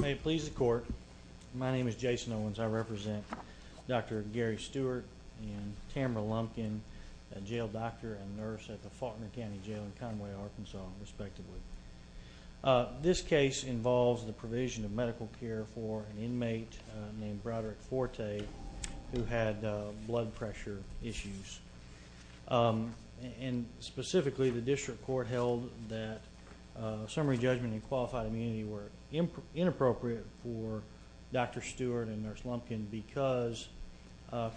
May it please the court, my name is Jason Owens. I represent Dr. Gary Stewart and Tamara Lumpkin, a jail doctor and nurse at the Faulkner County Jail in Conway, Arkansas, respectively. This case involves the provision of medical care for an inmate named Broderick Forte who had blood pressure issues and specifically the district court held that summary judgment and qualified immunity were inappropriate for Dr. Stewart and Nurse Lumpkin because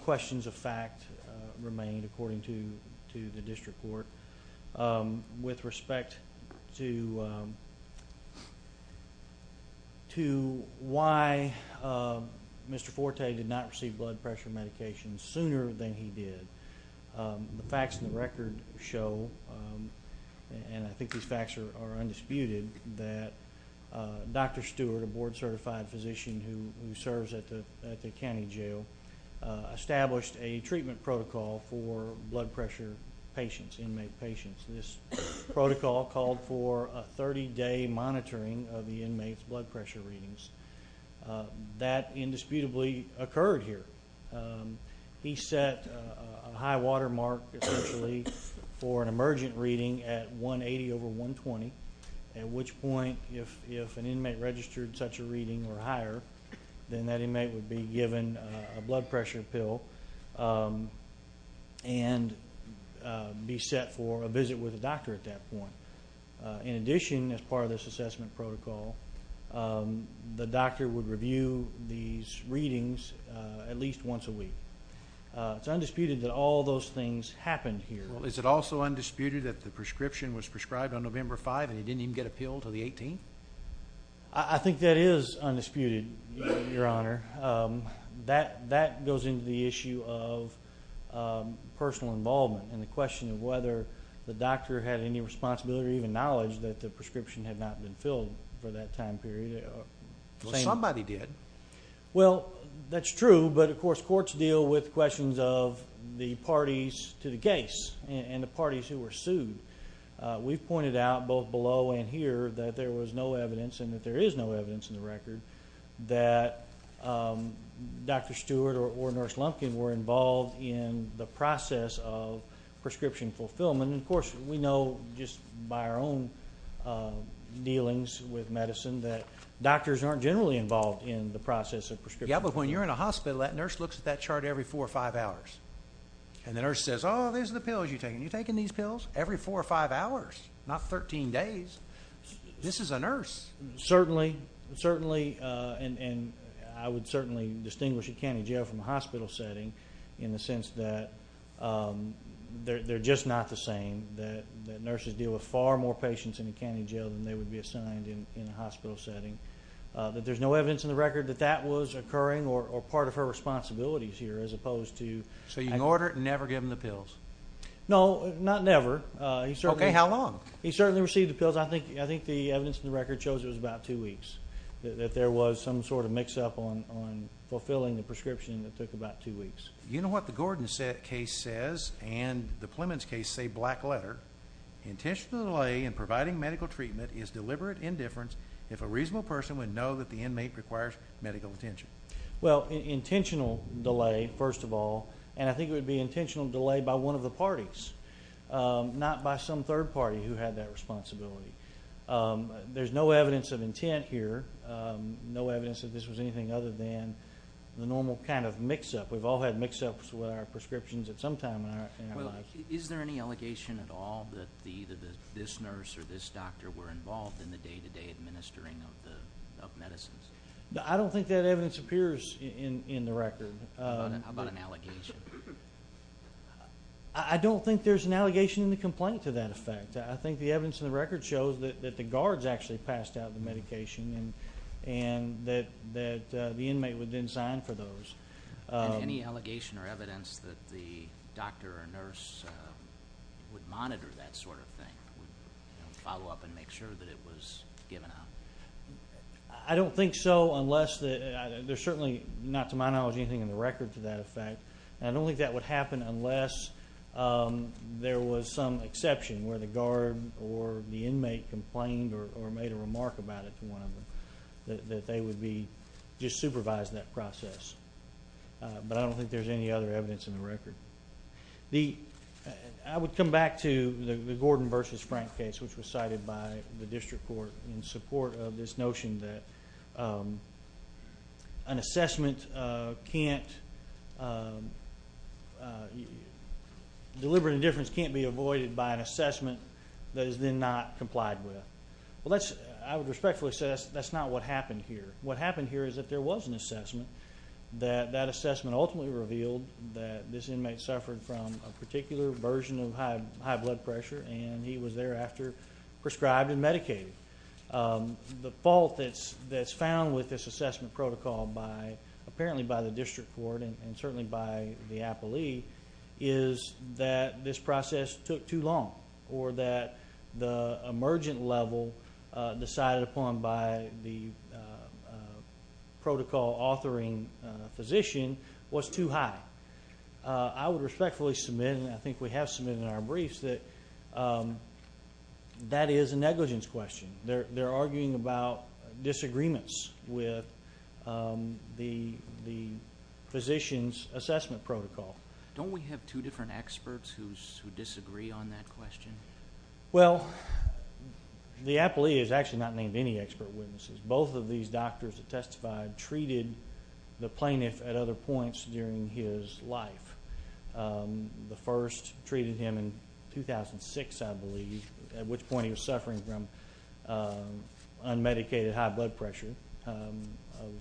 questions of fact remained according to the district court. With respect to why Mr. Forte did not receive blood pressure medication sooner than he did, the facts in the record show, and I think these facts are undisputed, that Dr. Stewart, a board-certified physician who serves at the county jail, established a treatment protocol for blood pressure patients, inmate patients. This protocol called for a 30-day monitoring of the inmates blood pressure readings. That indisputably occurred here. He set a high watermark, essentially, for an emergent reading at 180 over 120, at which point if an inmate registered such a reading or higher, then that inmate would be given a blood pressure pill and be set for a visit with a doctor at that point. In addition, as part of this assessment protocol, the doctor would review these readings at least once a week. It's undisputed that all those things happened here. Well, is it also undisputed that the prescription was prescribed on November 5 and he didn't even get a pill till the 18th? I think that is undisputed, Your Honor. That goes into the issue of personal involvement and the question of whether or not the prescription had not been filled for that time period. Well, somebody did. Well, that's true, but of course, courts deal with questions of the parties to the case and the parties who were sued. We've pointed out both below and here that there was no evidence and that there is no evidence in the record that Dr. Stewart or Nurse Lumpkin were involved in the process of prescription fulfillment. And of course, we know just by our own dealings with medicine that doctors aren't generally involved in the process of prescription. Yeah, but when you're in a hospital, that nurse looks at that chart every four or five hours and the nurse says, oh, these are the pills you're taking. You're taking these pills every four or five hours, not 13 days. This is a nurse. Certainly. Certainly. And I would certainly distinguish a county jail from a hospital setting in the sense that they're just not the same. That nurses deal with far more patients in a county jail than they would be assigned in a hospital setting. That there's no evidence in the record that that was occurring or part of her responsibilities here as opposed to. So you can order it and never give them the pills? No, not never. Okay, how long? He certainly received the pills. I think the evidence in the record shows it was about two weeks. That there was some sort of mix up on fulfilling the prescription that took about two weeks. You know what the Gordon case says and the Plemons case say black letter. Intentional delay in providing medical treatment is deliberate indifference. If a reasonable person would know that the inmate requires medical attention. Well, intentional delay, first of all, and I think it would be intentional delay by one of the parties, not by some third party who had that responsibility. There's no evidence of intent here. No evidence that this was anything other than the normal kind of mix up. We've all had mix ups with our prescriptions at some time. Is there any allegation at all that the this nurse or this doctor were involved in the day to day administering of the medicines? I don't think that evidence appears in the record. How about an allegation? I don't think there's an allegation in the complaint to that effect. I think the evidence in the record shows that the guards actually passed out the medication and that the inmate would then sign for those. Any allegation or evidence that the doctor or nurse would monitor that sort of thing? Follow up and make sure that it was given up. I don't think so, unless that there's certainly not to my knowledge, anything in the record to that effect, and I don't think that would happen unless there was some exception where the guard or the inmate complained or made a remark about it to one of them, that they would be just supervising that process. But I don't think there's any other evidence in the record. The I would come back to the Gordon versus Frank case, which was cited by the district court in support of this notion that an assessment can't deliver the difference can't be avoided by an assessment that is then not complied with. Well, that's I would respectfully say that's that's not what happened here. What happened here is that there was an assessment that that assessment ultimately revealed that this inmate suffered from a particular version of high high blood pressure, and he was thereafter prescribed and medicated. The fault that's that's found with this assessment protocol by apparently by the district court and certainly by the Apple II is that this process took too long or that the emergent level decided upon by the protocol authoring physician was too high. I would respectfully submit. And I think we have some in our briefs that that is a negligence question there. They're arguing about disagreements with the the physicians assessment protocol. Don't we have two different experts who disagree on that question. Well, the Apple II is actually not named any expert witnesses. Both of these doctors that testified treated the plaintiff at other points during his life. The first treated him in 2006, I believe, at which point he was suffering from unmedicated high blood pressure of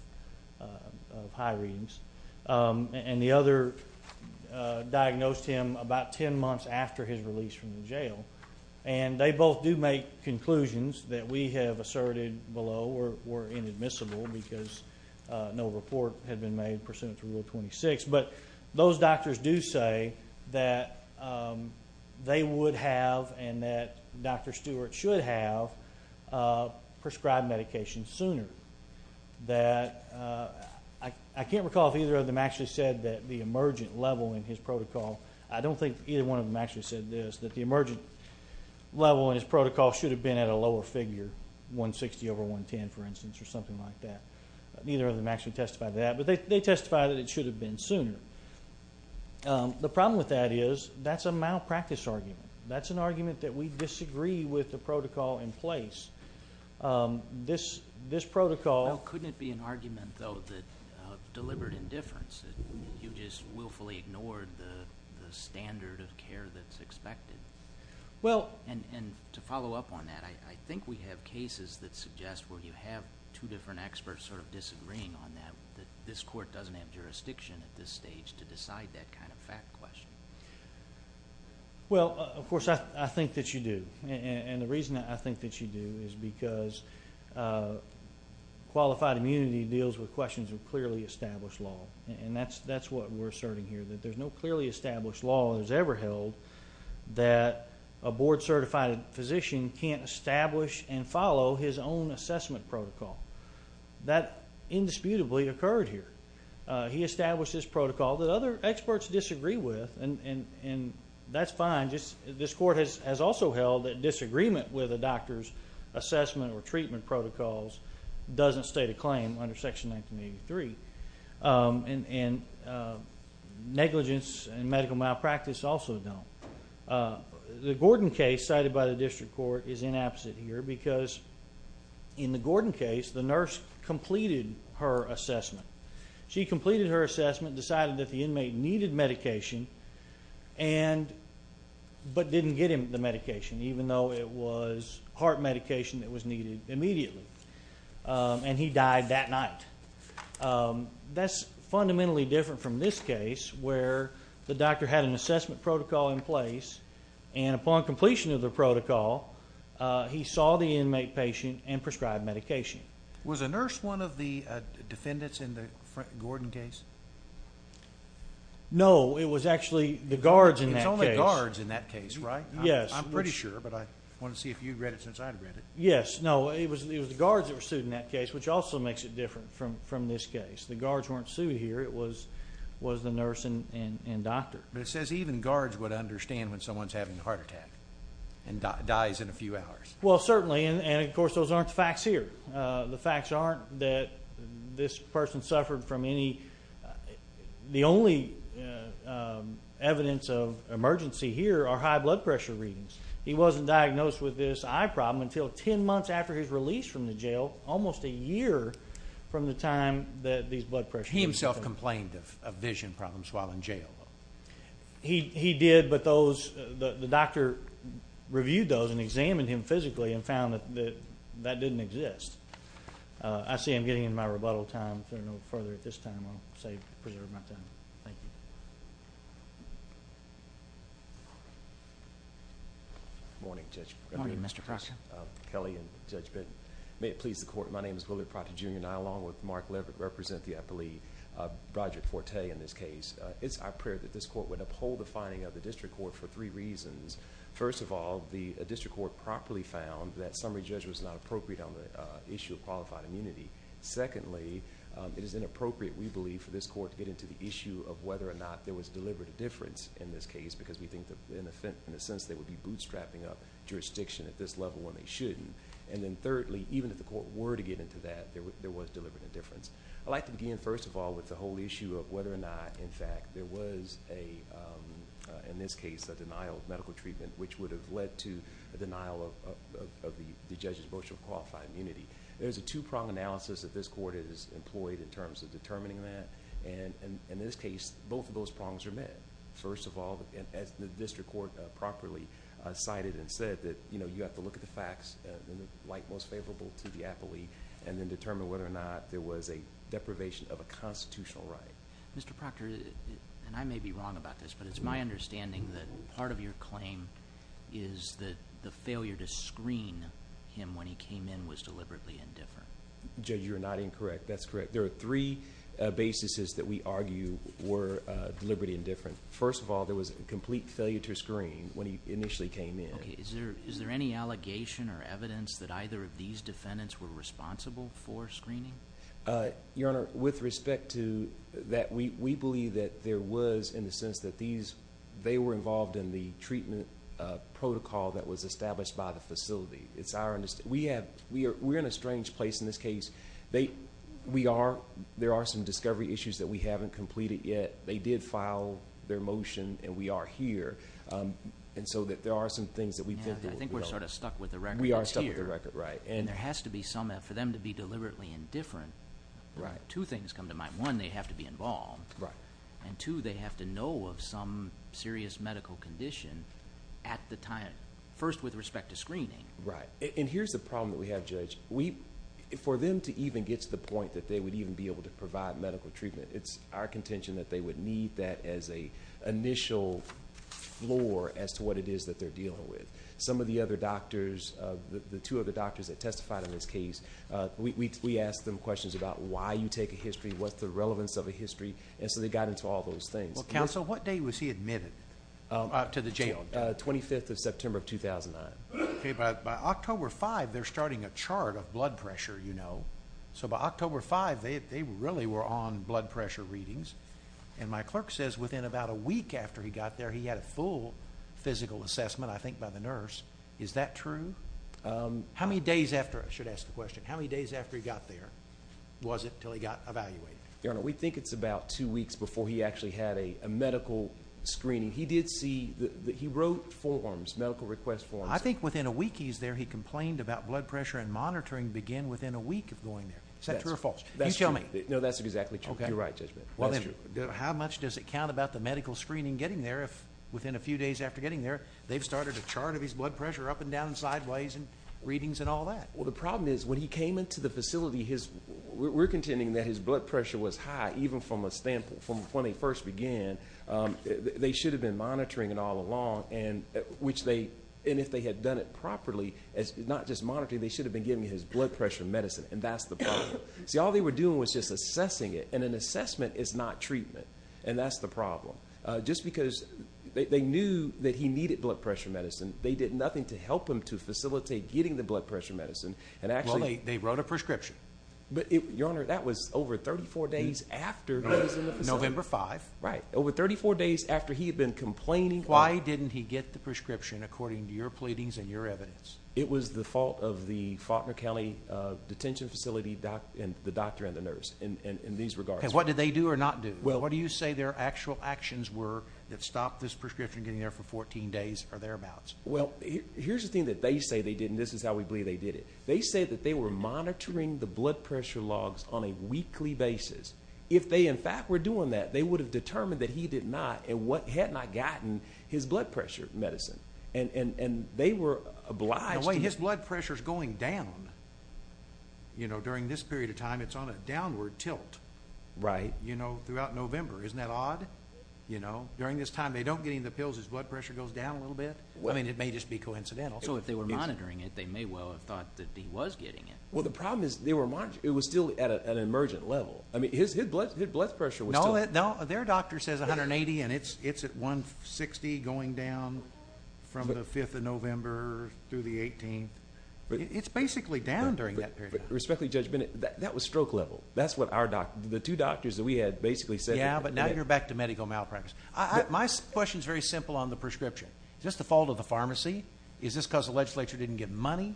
high readings and the other diagnosed him about 10 months after his release from jail. And they both do make conclusions that we have asserted below or were inadmissible because no report had been made pursuant to rule 26. But those doctors do say that they would have and that Dr. Stewart should have prescribed medication sooner that I can't recall if either of them actually said that the emergent level in his protocol. I don't think either one of them actually said this, that the emergent level in his protocol should have been at a lower figure 160 over 110, for instance, or something like that. Neither of them actually testified that, but they testified that it should have been sooner. The problem with that is that's a malpractice argument. That's an argument that we disagree with the protocol in place. This protocol... Well, couldn't it be an argument, though, that deliberate indifference, that you just willfully ignored the standard of care that's expected? Well, and to follow up on that, I think we have cases that suggest where you have two different experts sort of disagreeing on that, that this court doesn't have jurisdiction at this stage to decide that kind of fact question. Well, of course, I think that you do. And the reason I think that you do is because qualified immunity deals with questions of clearly established law. And that's what we're asserting here, that there's no clearly established law that's ever held that a board-certified physician can't establish and follow his own assessment protocol. That indisputably occurred here. He established this protocol that other experts disagree with, and that's fine. This court has also held that disagreement with a doctor's assessment or treatment protocol doesn't state a claim under Section 1983. And negligence and medical malpractice also don't. The Gordon case cited by the district court is inapposite here because in the Gordon case, the nurse completed her assessment. She completed her assessment, decided that the inmate needed medication, but didn't get him the medication, even though it was heart medication that was needed immediately. And he died that night. That's fundamentally different from this case where the doctor had an assessment protocol in place, and upon completion of the protocol, he saw the inmate patient and prescribed medication. Was a nurse one of the defendants in the Gordon case? No, it was actually the guards in that case. It's only guards in that case, right? Yes. I'm pretty sure, but I want to see if you read it since I read it. Yes, no, it was the guards that were sued in that case, which also makes it different from this case. The guards weren't sued here. It was the nurse and doctor. But it says even guards would understand when someone's having a heart attack and dies in a few hours. Well, certainly. And of course, those aren't the facts here. The facts aren't that this person suffered from any. The only evidence of emergency here are high blood pressure readings. He wasn't diagnosed with this eye problem until 10 months after his release from the jail, almost a year from the time that these blood pressure. He himself complained of vision problems while in jail. He did, but those the doctor reviewed those and examined him physically and found that that didn't exist. I see I'm getting in my rebuttal time. There are no further at this time. I'll say preserve my time. Thank you. Morning, Judge. Morning, Mr. Proctor. Kelly and Judge Benton. May it please the court. My name is Willard Proctor, Jr. And I, along with Mark Leverett, represent the appellee, Broderick Forte, in this case. It's our prayer that this court would uphold the finding of the district court for three reasons. First of all, the district court properly found that summary judge was not appropriate on the issue of qualified immunity. Secondly, it is inappropriate, we believe, for this court to get into the issue of whether or not there was deliberate difference in this case, because we think, in a sense, they would be bootstrapping up jurisdiction at this level when they shouldn't. And then thirdly, even if the court were to get into that, there was deliberate indifference. I'd like to begin, first of all, with the whole issue of whether or not, in fact, there was a, in this case, a denial of medical treatment, which would have led to a denial of the judge's brochure of qualified immunity. There's a two-prong analysis that this court has employed in terms of determining that. And in this case, both of those prongs are met. First of all, as the district court properly cited and said, that, you know, you have to look at the facts in the light most favorable to the appellee, and then determine whether or not there was a deprivation of a constitutional right. Mr. Proctor, and I may be wrong about this, but it's my understanding that part of your claim is that the failure to screen him when he came in was deliberately indifferent. Judge, you're not incorrect. That's correct. There are three basises that we argue were deliberately indifferent. First of all, there was a complete failure to screen when he initially came in. Okay. Is there, is there any allegation or evidence that either of these defendants were responsible for screening? Your Honor, with respect to that, we believe that there was in the sense that these, they were involved in the treatment protocol that was established by the facility. It's our, we have, we are, we're in a strange place in this case. They, we are, there are some discovery issues that we haven't completed yet. They did file their motion, and we are here, and so that there are some things that we've been through. I think we're sort of stuck with the record. We are stuck with the record, right. And there has to be some, for them to be deliberately indifferent, two things come to mind. One, they have to be involved. Right. And two, they have to know of some serious medical condition at the time, first with respect to screening. Right, and here's the problem that we have, Judge. We, for them to even get to the point that they would even be able to provide medical treatment, it's our contention that they would need that as a initial floor as to what it is that they're dealing with. Some of the other doctors, the two other doctors that testified in this case, we asked them questions about why you take a history, what's the relevance of a history, and so they got into all those things. Well, Counsel, what day was he admitted to the jail? 25th of September of 2009. Okay, but by October 5, they're starting a chart of blood pressure, you know. So by October 5, they really were on blood pressure readings. And my clerk says within about a week after he got there, he had a full physical assessment, I think, by the nurse. Is that true? How many days after, I should ask the question, how many days after he got there was it till he got evaluated? Your Honor, we think it's about two weeks before he actually had a medical screening. He did see, he wrote forms, medical request forms. I think within a week he's there, he complained about blood pressure and monitoring began within a week of going there. Is that true or false? You tell me. No, that's exactly true. You're right, Judge Bennett. That's true. How much does it count about the medical screening getting there if within a few days after getting there, they've started a chart of his blood pressure up and down and sideways and readings and all that? Well, the problem is when he came into the facility, we're contending that his blood pressure was high even from a standpoint, they should have been monitoring it all along, and if they had done it properly, not just monitoring, they should have been giving his blood pressure medicine, and that's the problem. See, all they were doing was just assessing it, and an assessment is not treatment, and that's the problem. Just because they knew that he needed blood pressure medicine, they did nothing to help him to facilitate getting the blood pressure medicine, and actually- Well, they wrote a prescription. But Your Honor, that was over 34 days after he was in the facility. November 5th. Right, over 34 days after he had been complaining- Why didn't he get the prescription according to your pleadings and your evidence? It was the fault of the Faulkner County Detention Facility, the doctor and the nurse in these regards. What did they do or not do? What do you say their actual actions were that stopped this prescription getting there for 14 days or thereabouts? Well, here's the thing that they say they did, and this is how we believe they did it. They said that they were monitoring the blood pressure logs on a weekly basis. If they, in fact, were doing that, they would have determined that he did not, and had not gotten his blood pressure medicine, and they were obliged to- No, wait, his blood pressure's going down, you know, during this period of time. It's on a downward tilt, you know, throughout November. Isn't that odd, you know? During this time, they don't get any of the pills, his blood pressure goes down a little bit? I mean, it may just be coincidental. So, if they were monitoring it, they may well have thought that he was getting it. Well, the problem is they were- It was still at an emergent level. I mean, his blood pressure was still- No, their doctor says 180, and it's at 160 going down from the 5th of November through the 18th. It's basically down during that period of time. Respectfully, Judge Bennett, that was stroke level. That's what the two doctors that we had basically said- Yeah, but now you're back to medical malpractice. My question's very simple on the prescription. Is this the fault of the pharmacy? Is this because the legislature didn't give money?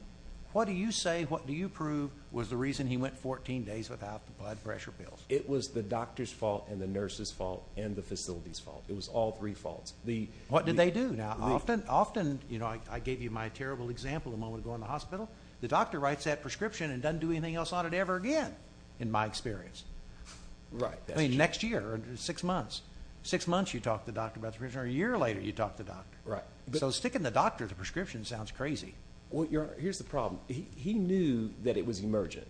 What do you say, what do you prove was the reason he went 14 days without the blood pressure pills? It was the doctor's fault, and the nurse's fault, and the facility's fault. It was all three faults. What did they do? Now, often, I gave you my terrible example a moment ago in the hospital. The doctor writes that prescription and doesn't do anything else on it ever again, in my experience. Right, that's true. I mean, next year, six months. Six months, you talk to the doctor about the prescription, or a year later, you talk to the doctor. Right. So, sticking the doctor the prescription sounds crazy. Well, Your Honor, here's the problem. He knew that it was emergent.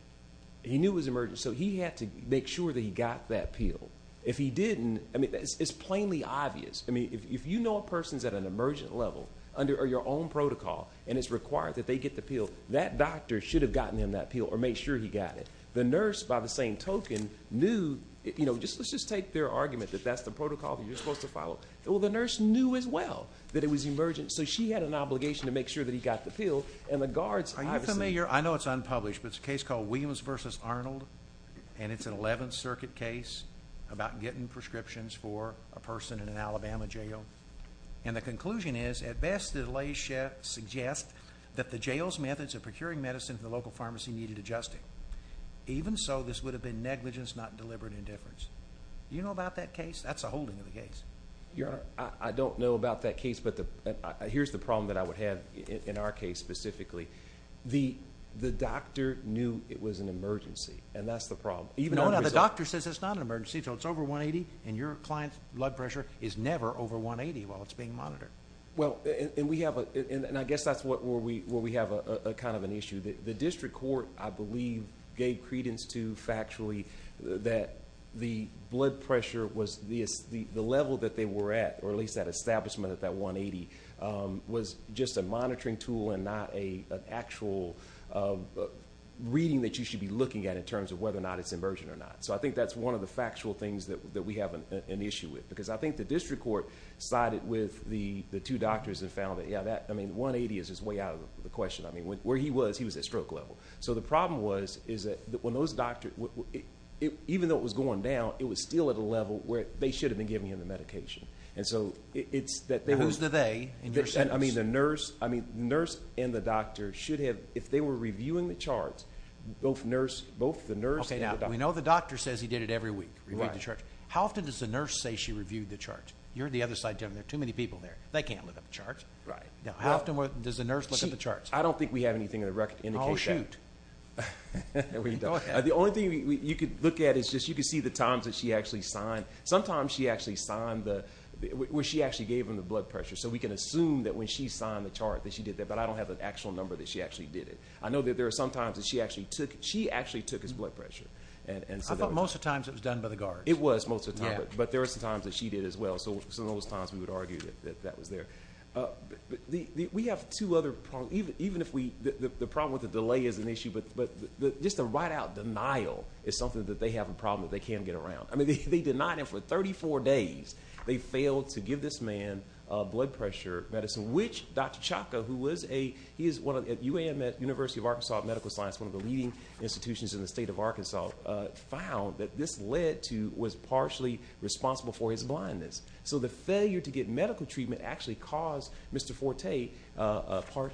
He knew it was emergent, so he had to make sure that he got that pill. If he didn't, I mean, it's plainly obvious. I mean, if you know a person's at an emergent level under your own protocol, and it's required that they get the pill, that doctor should have gotten him that pill, or made sure he got it. The nurse, by the same token, knew, you know, let's just take their argument that that's the protocol that you're supposed to follow. Well, the nurse knew as well that it was emergent, so she had an obligation to make sure that he got the pill, and the guards obviously- Williams v. Arnold, and it's an 11th Circuit case about getting prescriptions for a person in an Alabama jail. And the conclusion is, at best, the delays suggest that the jail's methods of procuring medicine from the local pharmacy needed adjusting. Even so, this would have been negligence, not deliberate indifference. Do you know about that case? That's a holding of the case. Your Honor, I don't know about that case, but here's the problem that I would have in our case specifically. The doctor knew it was an emergency, and that's the problem. Even though the doctor says it's not an emergency, so it's over 180, and your client's blood pressure is never over 180 while it's being monitored. Well, and I guess that's where we have kind of an issue. The district court, I believe, gave credence to, factually, that the blood pressure was- the level that they were at, or at least that establishment at that 180, was just a monitoring tool and not an actual reading that you should be looking at in terms of whether or not it's emergent or not. So I think that's one of the factual things that we have an issue with. Because I think the district court sided with the two doctors that found that, yeah, that, I mean, 180 is just way out of the question. I mean, where he was, he was at stroke level. So the problem was, is that when those doctors- even though it was going down, it was still at a level where they should have been giving him the medication. And so, it's that they- Who's the they in your sense? I mean, the nurse, I mean, the nurse and the doctor should have, if they were reviewing the charts, both nurse, both the nurse- Okay, now, we know the doctor says he did it every week, reviewed the charts. How often does the nurse say she reviewed the charts? You're the other side gentleman. There are too many people there. They can't look at the charts. Right. Now, how often does the nurse look at the charts? I don't think we have anything in the record to indicate that. Oh, shoot. We don't. The only thing you could look at is just, you could see the times that she actually signed. Sometimes, she actually signed the- where she actually gave him the blood pressure. So, we can assume that when she signed the chart that she did that, but I don't have an actual number that she actually did it. I know that there are some times that she actually took- she actually took his blood pressure. And- How about most of the times it was done by the guards? It was most of the time. But there are some times that she did as well. So, some of those times, we would argue that that was there. We have two other problems, even if we- the problem with the delay is an issue, but just the right out denial is something that they have a problem that they can't get around. I mean, they denied him for 34 days. They failed to give this man blood pressure medicine, which Dr. Chaka, who was a- he is one of the- UAM at University of Arkansas Medical Science, one of the leading institutions in the state of Arkansas, found that this led to- was partially responsible for his blindness. So, the failure to get medical treatment actually caused Mr. Forte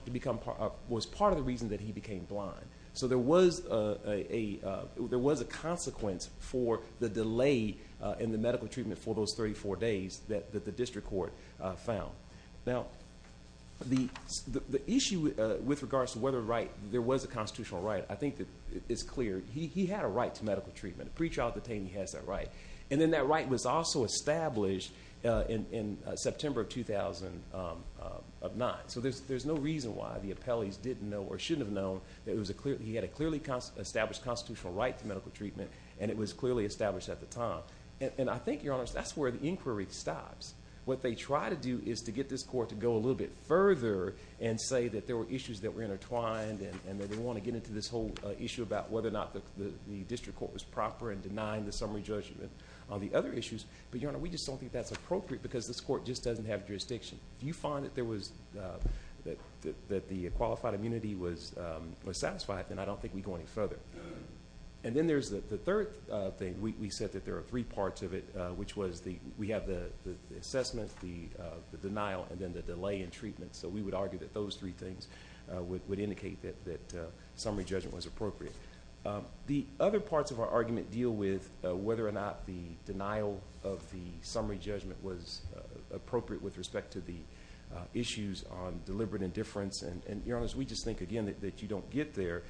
to become part- was part of the reason that he became blind. So, there was a consequence for the delay in the medical treatment for those 34 days that the district court found. Now, the issue with regards to whether or not there was a constitutional right, I think that it's clear. He had a right to medical treatment. A pre-child detainee has that right. And then that right was also established in September of 2009. So, there's no reason why the appellees didn't know or shouldn't have known that it was a clear- he had a clearly established constitutional right to medical treatment and it was clearly established at the time. And I think, Your Honor, that's where the inquiry stops. What they try to do is to get this court to go a little bit further and say that there were issues that were intertwined and that they want to get into this whole issue about whether or not the district court was proper and denying the summary judgment on the other issues. But, Your Honor, we just don't think that's appropriate because this court just doesn't have jurisdiction. If you find that the qualified immunity was satisfied, then I don't think we go any further. And then there's the third thing. We said that there are three parts of it, which was we have the assessment, the denial, and then the delay in treatment. So, we would argue that those three things would indicate that summary judgment was appropriate. The other parts of our argument deal with whether or not the denial of the summary judgment was appropriate with respect to the issues on deliberate indifference. And, Your Honor, we just think, again, that you don't get there.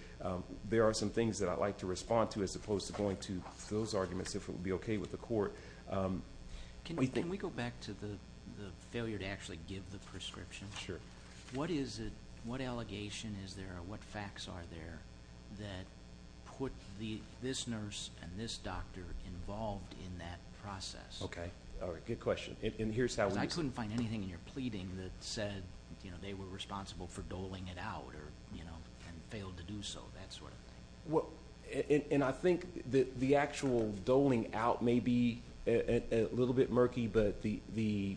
There are some things that I'd like to respond to as opposed to going to those arguments if it would be okay with the court. Can we go back to the failure to actually give the prescription? Sure. What is it? What allegation is there? What facts are there that put this nurse and this doctor involved in that process? Okay. All right. Good question. I couldn't find anything in your pleading that said, you know, they were responsible for doling it out or, you know, and failed to do so, that sort of thing. Well, and I think that the actual doling out may be a little bit murky, but the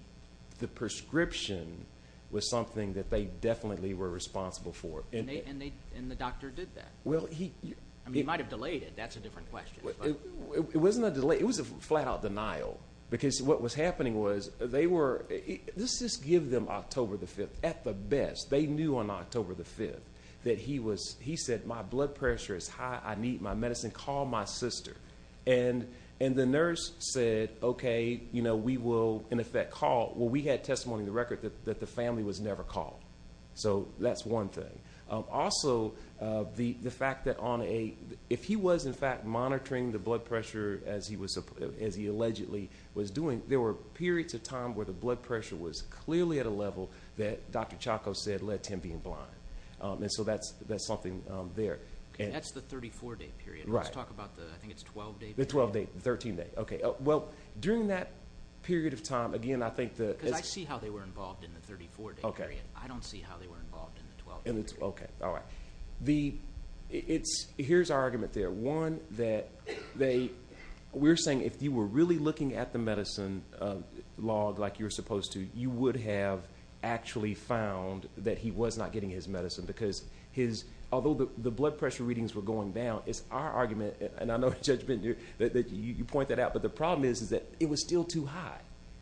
prescription was something that they definitely were responsible for. And the doctor did that. Well, he... I mean, he might have delayed it. That's a different question. It wasn't a delay. It was a flat-out denial. Because what was happening was they were... Let's just give them October the 5th at the best. They knew on October the 5th that he was... He said, my blood pressure is high. I need my medicine. Call my sister. And the nurse said, okay, you know, we will, in effect, call. Well, we had testimony in the record that the family was never called. So that's one thing. Also, the fact that on a... If he was, in fact, monitoring the blood pressure as he allegedly was doing, there were periods of time where the blood pressure was clearly at a level that Dr. Chacko said led to him being blind. And so that's something there. That's the 34-day period. Let's talk about the... I think it's 12-day period. The 12-day, 13-day, okay. Well, during that period of time, again, I think the... Because I see how they were involved in the 34-day period. I don't see how they were involved in the 12-day period. Okay, all right. Here's our argument there. One, that they... We're saying if you were really looking at the medicine log like you're supposed to, you would have actually found that he was not getting his medicine because his... Although the blood pressure readings were going down, it's our argument, and I know, Judge Bender, that you point that out, but the problem is that it was still too high.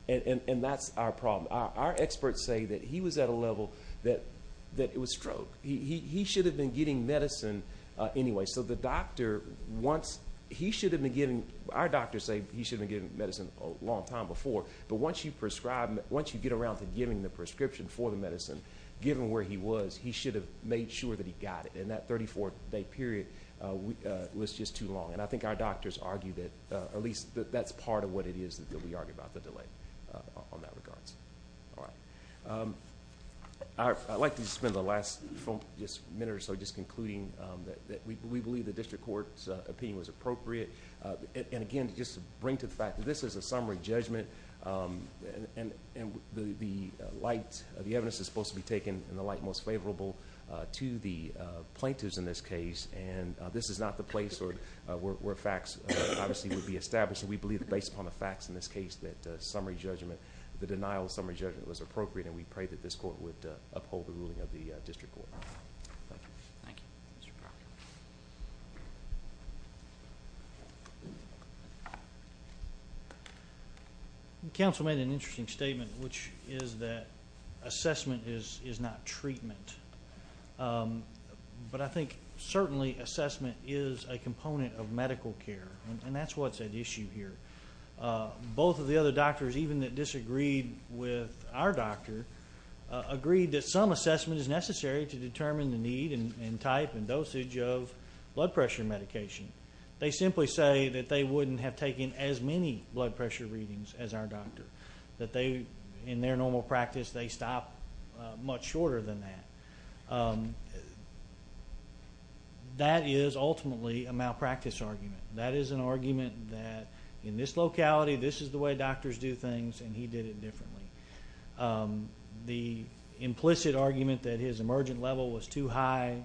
And that's our problem. Our experts say that he was at a level that it was stroke. He should have been getting medicine anyway. So the doctor, once... He should have been getting... Our doctors say he should have been getting medicine a long time before, but once you prescribe... Once you get around to giving the prescription for the medicine, given where he was, he should have made sure that he got it. And that 34-day period was just too long. And I think our doctors argue that, at least that's part of what it is that we argue about the delay on that regards. All right. I'd like to spend the last minute or so just concluding that we believe the district court's opinion was appropriate. And again, just to bring to the fact that this is a summary judgment, and the light... The evidence is supposed to be taken in the light most favorable to the plaintiffs in this case. And this is not the place where facts obviously would be established. And we believe, based upon the facts in this case, that summary judgment, the denial of summary judgment was appropriate. And we pray that this court would uphold the ruling of the district court. Thank you. Thank you. Council made an interesting statement, which is that assessment is not treatment. But I think certainly assessment is a component of medical care. And that's what's at issue here. Both of the other doctors, even that disagreed with our doctor, agreed that some assessment is necessary to determine the need and type and dosage of blood pressure medication. They simply say that they wouldn't have taken as many blood pressure readings as our doctor. That they, in their normal practice, they stop much shorter than that. That is ultimately a malpractice argument. That is an argument that in this locality, this is the way doctors do things, and he did it differently. The implicit argument that his emergent level was too high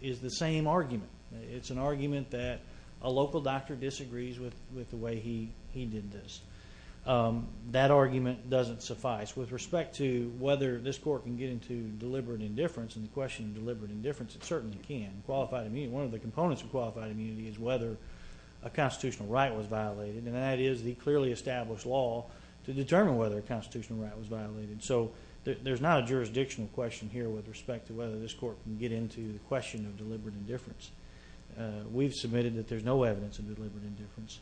is the same argument. It's an argument that a local doctor disagrees with the way he did this. That argument doesn't suffice. With respect to whether this court can get into deliberate indifference, and the question of deliberate indifference, it certainly can. Qualified immunity, one of the components of qualified immunity is whether a constitutional right was violated. And that is the clearly established law to determine whether a constitutional right was violated. So there's not a jurisdictional question here with respect to whether this court can get into the question of deliberate indifference. We've submitted that there's no evidence of deliberate indifference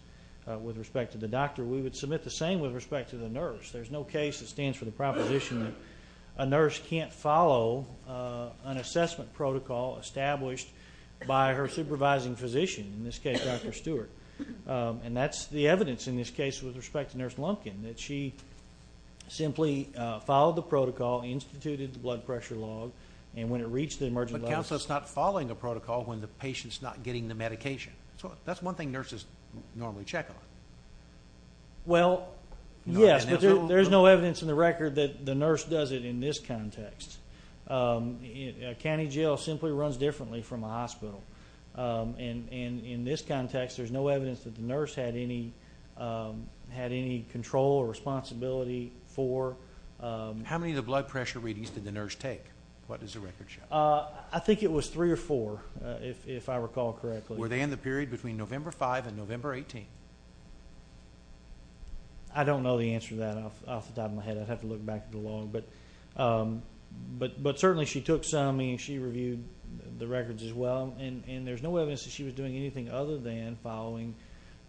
with respect to the doctor. We would submit the same with respect to the nurse. There's no case that stands for the proposition that a nurse can't follow an assessment protocol established by her supervising physician, in this case, Dr. Stewart. And that's the evidence in this case with respect to Nurse Lumpkin, that she simply followed the protocol, instituted the blood pressure log, and when it reached the emergency... But counsel is not following a protocol when the patient's not getting the medication. So that's one thing nurses normally check on. Well, yes, but there's no evidence in the record that the nurse does it in this context. County jail simply runs differently from a hospital. And in this context, there's no evidence that the nurse had any control or responsibility for... How many of the blood pressure readings did the nurse take? What does the record show? I think it was three or four, if I recall correctly. Were they in the period between November 5 and November 18? I don't know the answer to that off the top of my head. I'd have to look back at the log. But certainly she took some, meaning she reviewed the records as well. And there's no evidence that she was doing anything other than following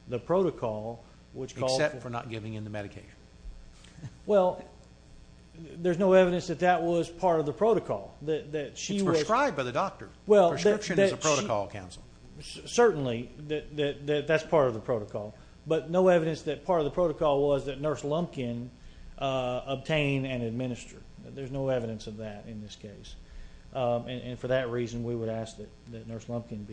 the protocol, which called... Except for not giving in the medication. Well, there's no evidence that that was part of the protocol. That she was... It's prescribed by the doctor. Well, that's... Prescription is a protocol, counsel. Certainly, that's part of the protocol. But no evidence that part of the protocol was that Nurse Lumpkin obtained and administered. There's no evidence of that in this case. And for that reason, we would ask that Nurse Lumpkin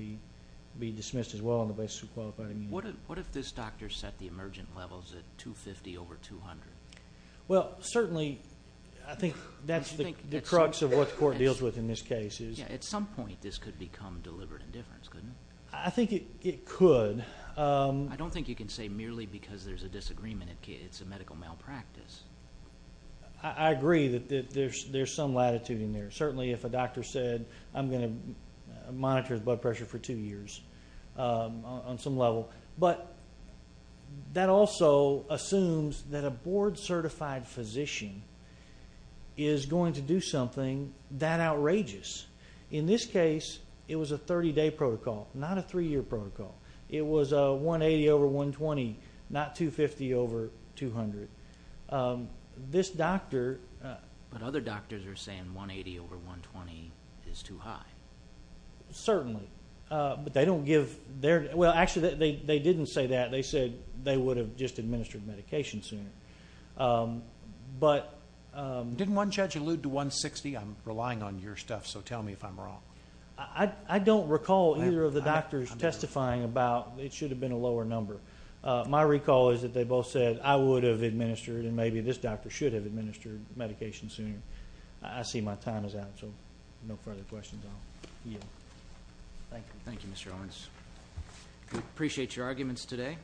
be dismissed as well on the basis of qualified immunity. What if this doctor set the emergent levels at 250 over 200? Well, certainly, I think that's the crux of what the court deals with in this case. At some point, this could become deliberate indifference, couldn't it? I think it could. I don't think you can say merely because there's a disagreement. It's a medical malpractice. I agree that there's some latitude in there. Certainly, if a doctor said, I'm going to monitor his blood pressure for two years on some level. But that also assumes that a board-certified physician is going to do something that outrageous. In this case, it was a 30-day protocol, not a three-year protocol. It was a 180 over 120, not 250 over 200. This doctor... But other doctors are saying 180 over 120 is too high. Certainly, but they don't give their... Well, actually, they didn't say that. They said they would have just administered medication sooner. But... Didn't one judge allude to 160? I'm relying on your stuff, so tell me if I'm wrong. I don't recall either of the doctors testifying about... It should have been a lower number. My recall is that they both said, I would have administered, and maybe this doctor should have administered medication sooner. I see my time is out, so no further questions. Thank you. Thank you, Mr. Owens. We appreciate your arguments today.